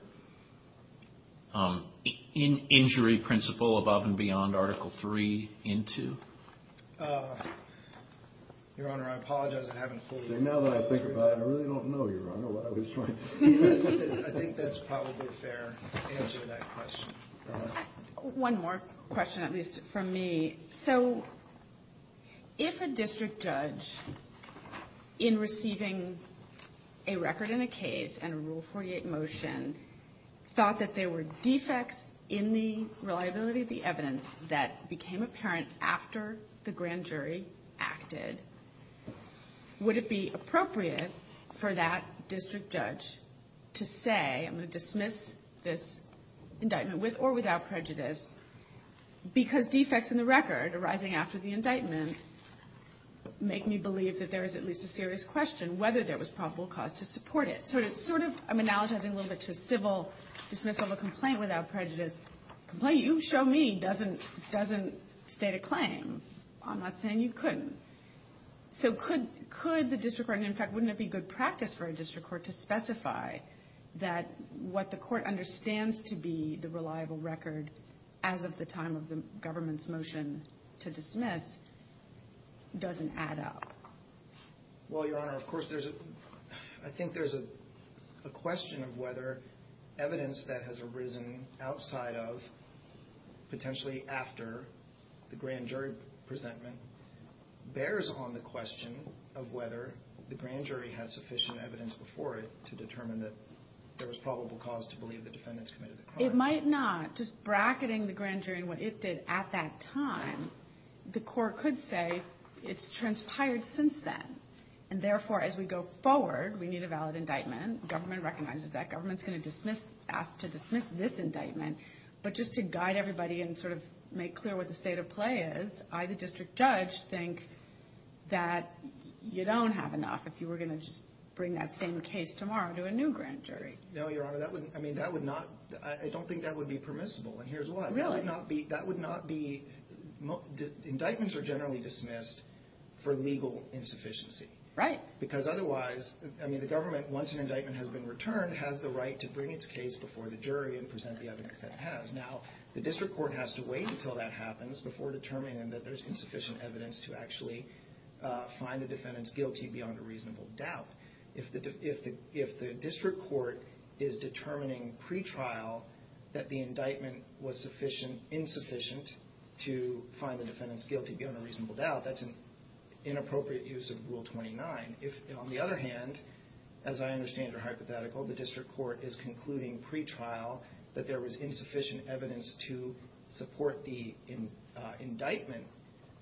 injury principle above and beyond Article III into? Your Honor, I apologize, I haven't fully understood. Now that I think about it, I really don't know, Your Honor, what I was trying to say. I think that's probably a fair answer to that question. One more question, at least from me. So if a district judge, in receiving a record in a case and a Rule 48 motion, thought that there were defects in the reliability of the evidence that became apparent after the grand jury acted, would it be appropriate for that district judge to say, I'm going to dismiss this indictment with or without prejudice, because defects in the record arising after the indictment make me believe that there is at least a serious question whether there was probable cause to support it. So it's sort of, I'm analogizing a little bit to a civil dismissal of a complaint without prejudice. A complaint, you show me, doesn't state a claim. I'm not saying you couldn't. So could the district court, and in fact wouldn't it be good practice for a district court to specify that what the court understands to be the reliable record as of the time of the government's motion to dismiss doesn't add up? Well, Your Honor, of course there's a, I think there's a question of whether evidence that has arisen outside of, potentially after the grand jury presentment, bears on the question of whether the grand jury had sufficient evidence before it to determine that there was probable cause to believe the defendants committed the crime. It might not. Just bracketing the grand jury and what it did at that time, the court could say it's transpired since then, and therefore as we go forward we need a valid indictment. Government recognizes that. Government's going to ask to dismiss this indictment. But just to guide everybody and sort of make clear what the state of play is, I, the district judge, think that you don't have enough. If you were going to just bring that same case tomorrow to a new grand jury. No, Your Honor. I mean, that would not, I don't think that would be permissible, and here's why. Really? That would not be, that would not be, indictments are generally dismissed for legal insufficiency. Right. Because otherwise, I mean, the government, once an indictment has been returned, has the right to bring its case before the jury and present the evidence that it has. Now, the district court has to wait until that happens before determining that there's insufficient evidence to actually find the defendants guilty beyond a reasonable doubt. If the district court is determining pre-trial that the indictment was sufficient, insufficient to find the defendants guilty beyond a reasonable doubt, that's an inappropriate use of Rule 29. If, on the other hand, as I understand it or hypothetical, the district court is concluding pre-trial that there was insufficient evidence to support the indictment,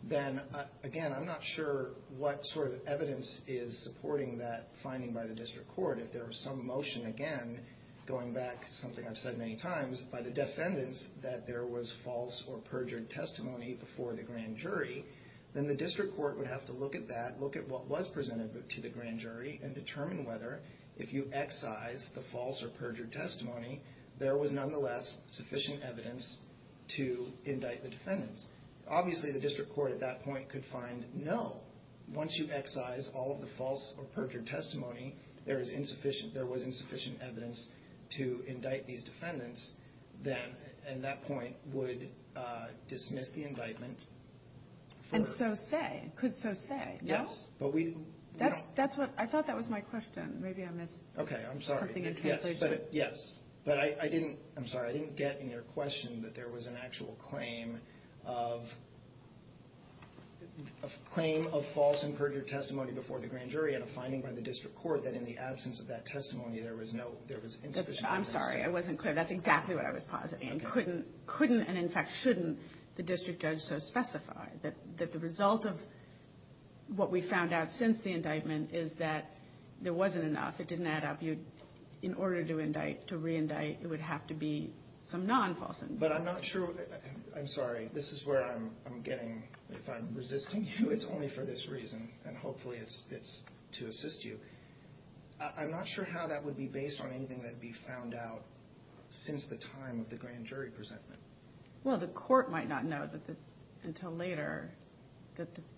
then, again, I'm not sure what sort of evidence is supporting that finding by the district court. If there was some motion, again, going back to something I've said many times, by the defendants that there was false or perjured testimony before the grand jury, then the district court would have to look at that, look at what was presented to the grand jury, and determine whether, if you excise the false or perjured testimony, there was nonetheless sufficient evidence to indict the defendants. Obviously, the district court at that point could find, no, once you excise all of the false or perjured testimony, there was insufficient evidence to indict these defendants, then at that point would dismiss the indictment. And so say, could so say, no? Yes. I thought that was my question. Maybe I missed something in translation. Okay, I'm sorry. Yes, but I didn't get in your question that there was an actual claim of claim of false and perjured testimony before the grand jury and a finding by the district court that in the absence of that testimony, there was no, there was insufficient evidence. I'm sorry, I wasn't clear. That's exactly what I was positing. Okay. And couldn't, and in fact shouldn't, the district judge so specify that the result of what we found out since the indictment is that there wasn't enough. It didn't add up. In order to indict, to reindict, it would have to be some non-false indictment. But I'm not sure, I'm sorry, this is where I'm getting, if I'm resisting you, it's only for this reason, and hopefully it's to assist you. I'm not sure how that would be based on anything that would be found out since the time of the grand jury presentment. Well, the court might not know until later,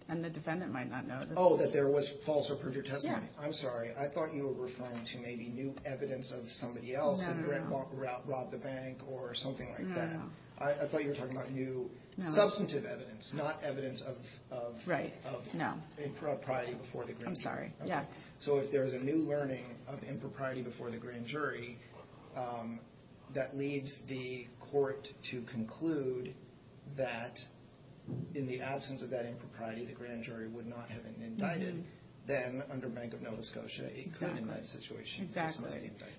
and the defendant might not know. Oh, that there was false or perjured testimony. Yeah. I'm sorry, I thought you were referring to maybe new evidence of somebody else robbed the bank or something like that. I thought you were talking about new substantive evidence, not evidence of impropriety before the grand jury. I'm sorry, yeah. So if there's a new learning of impropriety before the grand jury, that leads the court to conclude that in the absence of that impropriety, the grand jury would not have indicted them under Bank of Nova Scotia. Exactly.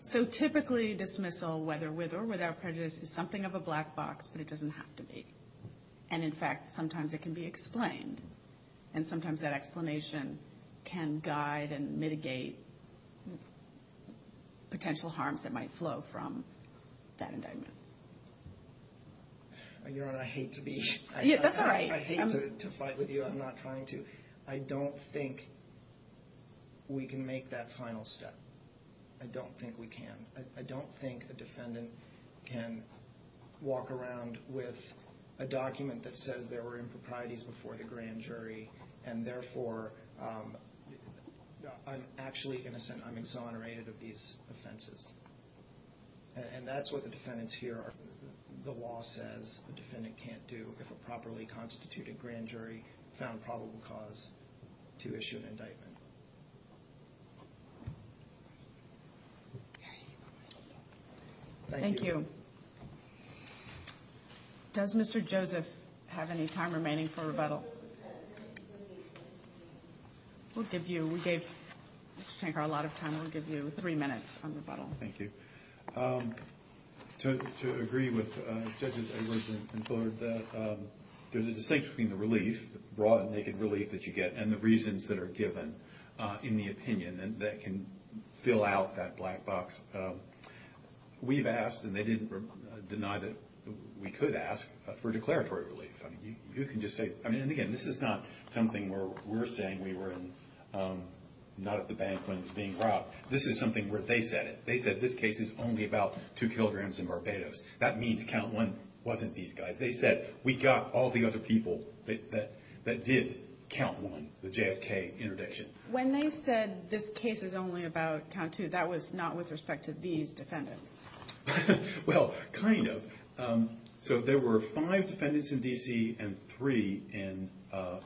So typically dismissal, whether with or without prejudice, is something of a black box, but it doesn't have to be. And, in fact, sometimes it can be explained, and sometimes that explanation can guide and mitigate potential harms that might flow from that indictment. Your Honor, I hate to be here. That's all right. I hate to fight with you. I'm not trying to. I don't think we can make that final step. I don't think we can. I don't think a defendant can walk around with a document that says there were improprieties before the grand jury, and therefore I'm actually innocent. I'm exonerated of these offenses. And that's what the defendants here are. The law says a defendant can't do, if a properly constituted grand jury found probable cause, to issue an indictment. Thank you. Does Mr. Joseph have any time remaining for rebuttal? We gave Mr. Shankar a lot of time. We'll give you three minutes on rebuttal. Thank you. To agree with Judges Edwards and Fuller, there's a distinction between the relief, the raw and naked relief that you get, and the reasons that are given in the opinion that can fill out that black box. We've asked, and they didn't deny that we could ask, for declaratory relief. You can just say – and, again, this is not something where we're saying we were not at the bank when it was being brought up. This is something where they said it. It's only about two kilograms and Barbados. That means count one wasn't these guys. They said we got all the other people that did count one, the JFK interdiction. When they said this case is only about count two, that was not with respect to these defendants. Well, kind of. So there were five defendants in D.C. and three in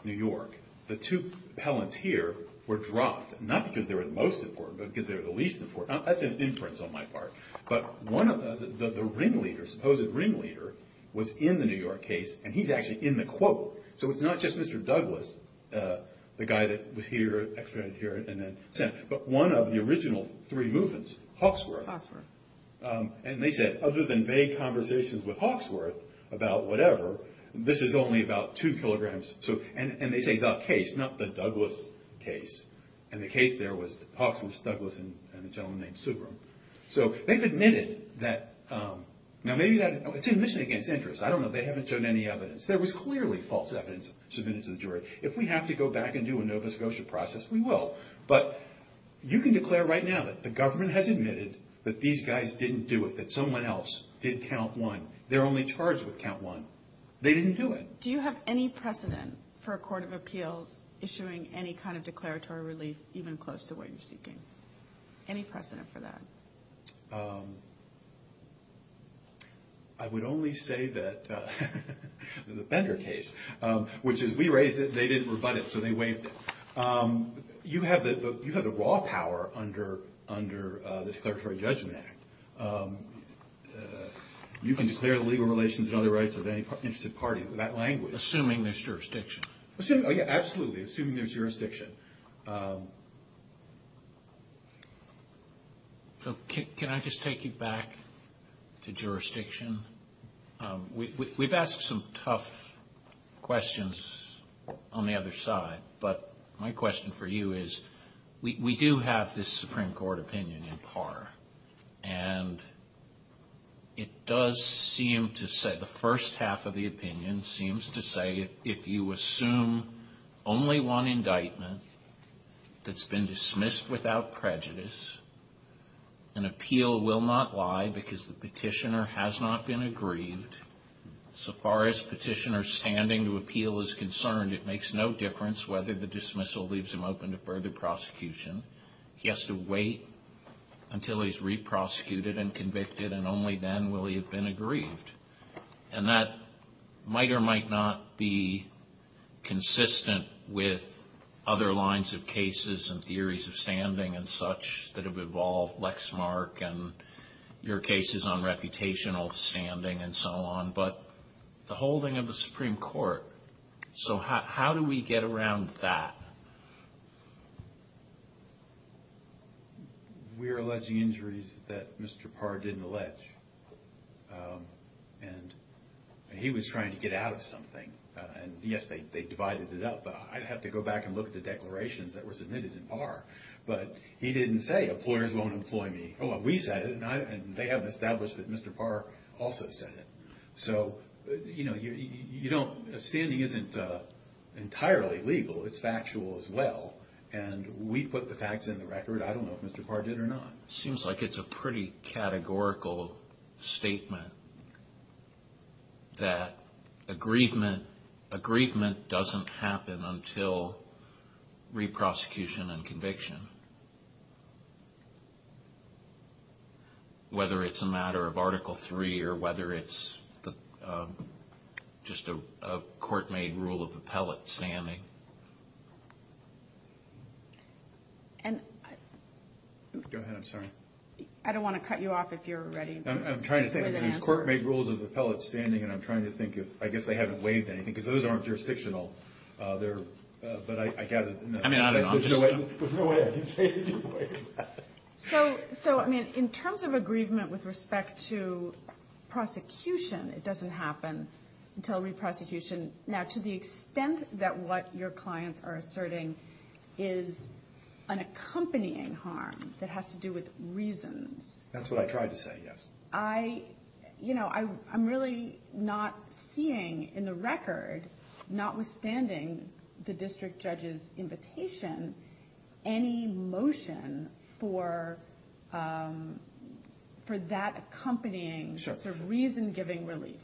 New York. The two appellants here were dropped, not because they were the most important, but because they were the least important. That's an inference on my part. But the ringleader, supposed ringleader, was in the New York case, and he's actually in the quote. So it's not just Mr. Douglas, the guy that was here, extradited here, and then sent, but one of the original three movements, Hawksworth. Hawksworth. And they said other than vague conversations with Hawksworth about whatever, this is only about two kilograms. And they say the case, not the Douglas case. And the case there was Hawksworth, Douglas, and a gentleman named Subram. So they've admitted that. Now, maybe that's an admission against interest. I don't know. They haven't shown any evidence. There was clearly false evidence submitted to the jury. If we have to go back and do a Nova Scotia process, we will. But you can declare right now that the government has admitted that these guys didn't do it, that someone else did count one. They're only charged with count one. They didn't do it. Do you have any precedent for a court of appeals issuing any kind of declaratory relief, even close to what you're seeking? Any precedent for that? I would only say that the Bender case, which is we raised it, they didn't rebut it, so they waived it. You have the raw power under the Declaratory Judgment Act. You can declare the legal relations and other rights of any interested party with that language. Assuming there's jurisdiction. Oh, yeah, absolutely. Assuming there's jurisdiction. So can I just take you back to jurisdiction? We've asked some tough questions on the other side, but my question for you is, we do have this Supreme Court opinion in par. And it does seem to say, the first half of the opinion seems to say, if you assume only one indictment that's been dismissed without prejudice, an appeal will not lie because the petitioner has not been aggrieved. So far as petitioner standing to appeal is concerned, it makes no difference whether the dismissal leaves him open to further prosecution. He has to wait until he's re-prosecuted and convicted, and only then will he have been aggrieved. And that might or might not be consistent with other lines of cases and theories of standing and such that have evolved, Lexmark and your cases on reputational standing and so on. But the holding of the Supreme Court. So how do we get around that? We're alleging injuries that Mr. Parr didn't allege. And he was trying to get out of something. And, yes, they divided it up. I'd have to go back and look at the declarations that were submitted in par. But he didn't say, employers won't employ me. We said it, and they haven't established that Mr. Parr also said it. So, you know, standing isn't entirely legal. It's factual as well. And we put the facts in the record. I don't know if Mr. Parr did or not. It seems like it's a pretty categorical statement that aggrievement doesn't happen until re-prosecution and conviction. Whether it's a matter of Article III or whether it's just a court-made rule of appellate standing. Go ahead, I'm sorry. I don't want to cut you off if you're ready. I'm trying to think. There's court-made rules of appellate standing, and I'm trying to think if, I guess they haven't waived anything. Because those aren't jurisdictional. But I gather there's no way I can say they waived that. So, I mean, in terms of aggrievement with respect to prosecution, it doesn't happen until re-prosecution. Now, to the extent that what your clients are asserting is an accompanying harm that has to do with reasons. That's what I tried to say, yes. I, you know, I'm really not seeing in the record, notwithstanding the district judge's invitation, any motion for that accompanying sort of reason-giving relief.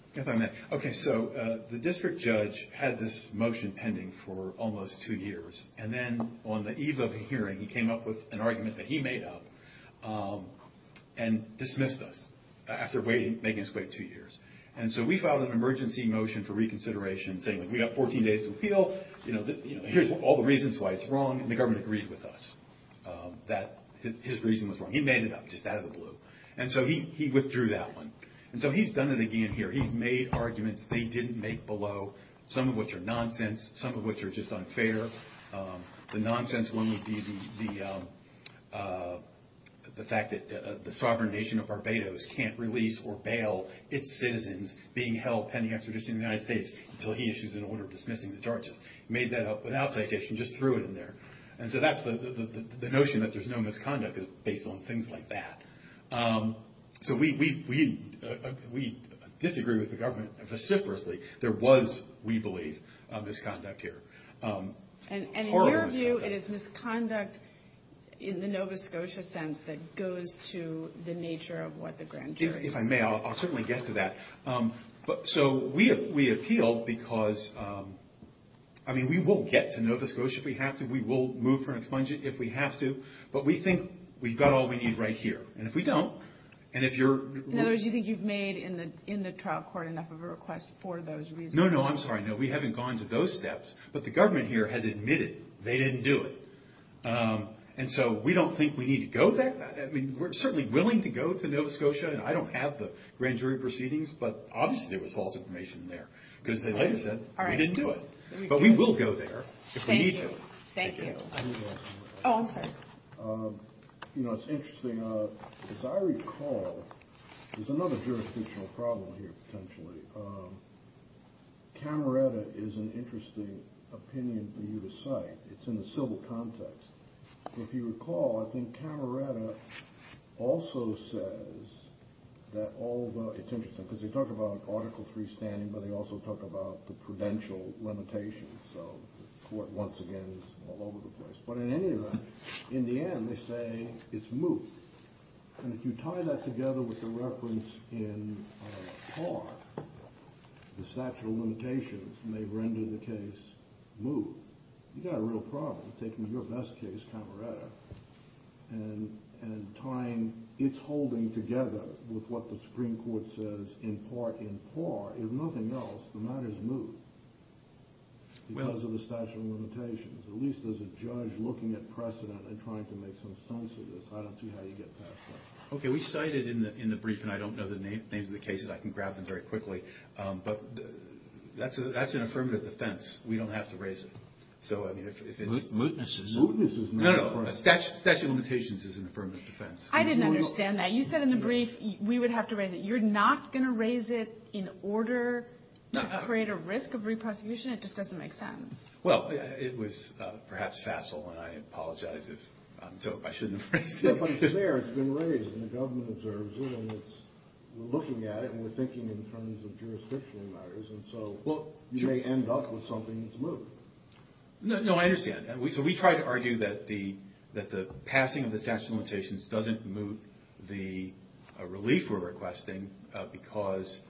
Okay, so the district judge had this motion pending for almost two years. And then on the eve of the hearing, he came up with an argument that he made up and dismissed us after making us wait two years. And so we filed an emergency motion for reconsideration saying we've got 14 days to appeal. Here's all the reasons why it's wrong. And the government agreed with us that his reason was wrong. He made it up just out of the blue. And so he withdrew that one. And so he's done it again here. He's made arguments they didn't make below, some of which are nonsense, some of which are just unfair. The nonsense one would be the fact that the sovereign nation of Barbados can't release or bail its citizens being held pending extradition in the United States until he issues an order dismissing the charges. He made that up without citation, just threw it in there. And so that's the notion that there's no misconduct is based on things like that. So we disagree with the government vociferously. There was, we believe, misconduct here. And in your view, it is misconduct in the Nova Scotia sense that goes to the nature of what the grand jury is. If I may, I'll certainly get to that. So we appealed because, I mean, we will get to Nova Scotia if we have to. We will move for an expungent if we have to. But we think we've got all we need right here. And if we don't, and if you're- In other words, you think you've made in the trial court enough of a request for those reasons? No, no, I'm sorry. No, we haven't gone to those steps. But the government here has admitted they didn't do it. And so we don't think we need to go there. I mean, we're certainly willing to go to Nova Scotia. And I don't have the grand jury proceedings. But obviously, there was false information there because they later said we didn't do it. But we will go there if we need to. Thank you. Thank you. Oh, I'm sorry. You know, it's interesting. As I recall, there's another jurisdictional problem here potentially. Camerata is an interesting opinion for you to cite. It's in the civil context. If you recall, I think Camerata also says that all the- It's interesting because they talk about Article III standing, but they also talk about the prudential limitations. So the court, once again, is all over the place. But in any event, in the end, they say it's moot. And if you tie that together with the reference in par, the statute of limitations may render the case moot. You've got a real problem taking your best case, Camerata, and tying its holding together with what the Supreme Court says in part in par. If nothing else, the matter's moot because of the statute of limitations. At least there's a judge looking at precedent and trying to make some sense of this. I don't see how you get past that. Okay. We cite it in the brief, and I don't know the names of the cases. I can grab them very quickly. But that's an affirmative defense. We don't have to raise it. So, I mean, if it's- Mootness is mootness. No, no. Statute of limitations is an affirmative defense. I didn't understand that. You said in the brief we would have to raise it. You're not going to raise it in order to create a risk of re-prosecution? It just doesn't make sense. Well, it was perhaps facile, and I apologize if I shouldn't have raised it. But it's there. It's been raised, and the government observes it, and we're looking at it, and we're thinking in terms of jurisdictional matters. And so you may end up with something that's moot. No, I understand. So we try to argue that the passing of the statute of limitations doesn't moot the relief we're requesting because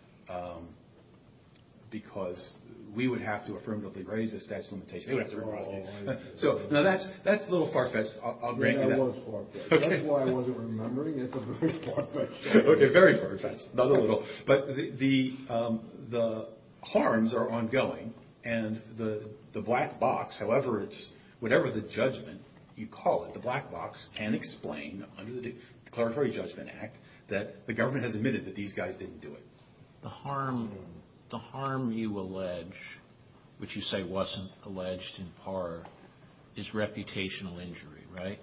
we would have to affirmatively raise the statute of limitations. They would have to re-prosecute. Now, that's a little far-fetched. I'll grant you that. That was far-fetched. That's why I wasn't remembering. It's a very far-fetched statement. Okay, very far-fetched. Not a little. But the harms are ongoing, and the black box, however it's- whatever the judgment you call it, the black box, can explain under the Declaratory Judgment Act that the government has admitted that these guys didn't do it. The harm you allege, which you say wasn't alleged in part, is reputational injury, right?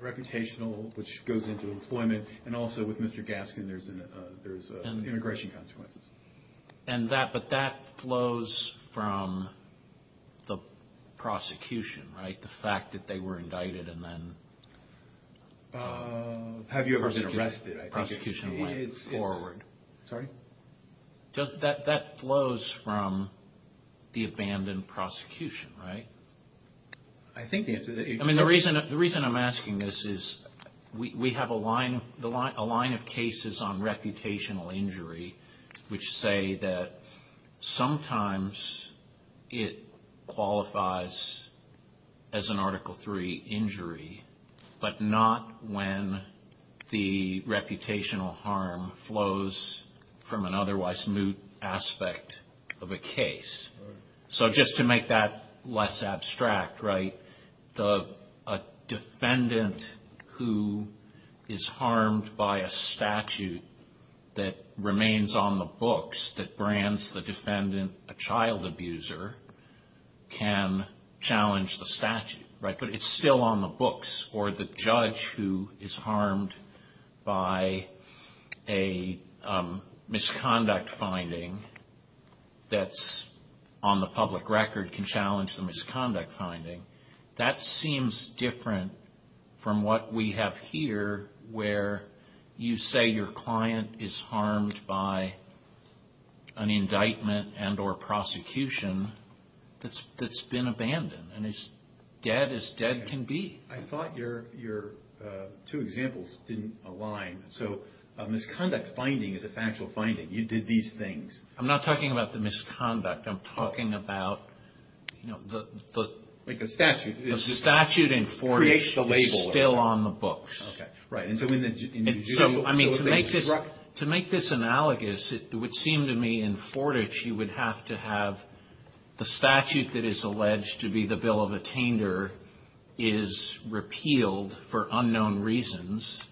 Reputational, which goes into employment, and also with Mr. Gaskin, there's immigration consequences. But that flows from the prosecution, right? The fact that they were indicted and then- Have you ever been arrested? Prosecution went forward. Sorry? That flows from the abandoned prosecution, right? I think the answer- The reason I'm asking this is we have a line of cases on reputational injury, which say that sometimes it qualifies as an Article III injury, but not when the reputational harm flows from an otherwise moot aspect of a case. So just to make that less abstract, right, a defendant who is harmed by a statute that remains on the books, that brands the defendant a child abuser, can challenge the statute, right? But it's still on the books. Or the judge who is harmed by a misconduct finding that's on the public record can challenge the misconduct finding. That seems different from what we have here, where you say your client is harmed by an indictment and or prosecution that's been abandoned and is dead as dead can be. I thought your two examples didn't align. So a misconduct finding is a factual finding. You did these things. I'm not talking about the misconduct. I'm talking about the statute in Fortitch is still on the books. Okay. Right. And so to make this analogous, it would seem to me in Fortitch you would have to have the statute that is alleged to be the bill of attainder is repealed for unknown reasons,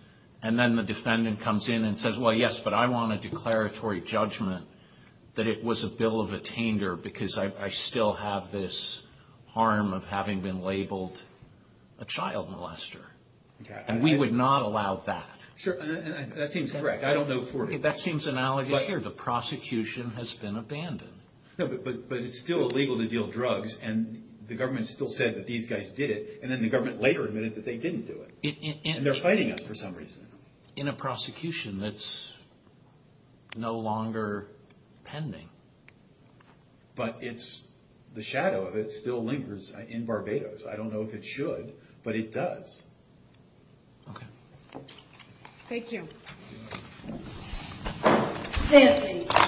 and then the defendant comes in and says, Well, yes, but I want a declaratory judgment that it was a bill of attainder because I still have this harm of having been labeled a child molester. And we would not allow that. Sure. That seems correct. I don't know Fortitch. That seems analogous here. The prosecution has been abandoned. But it's still illegal to deal drugs, and the government still said that these guys did it, and then the government later admitted that they didn't do it. And they're fighting us for some reason. In a prosecution that's no longer pending. But it's the shadow of it still lingers in Barbados. I don't know if it should, but it does. Okay. Thank you. Stand at ease.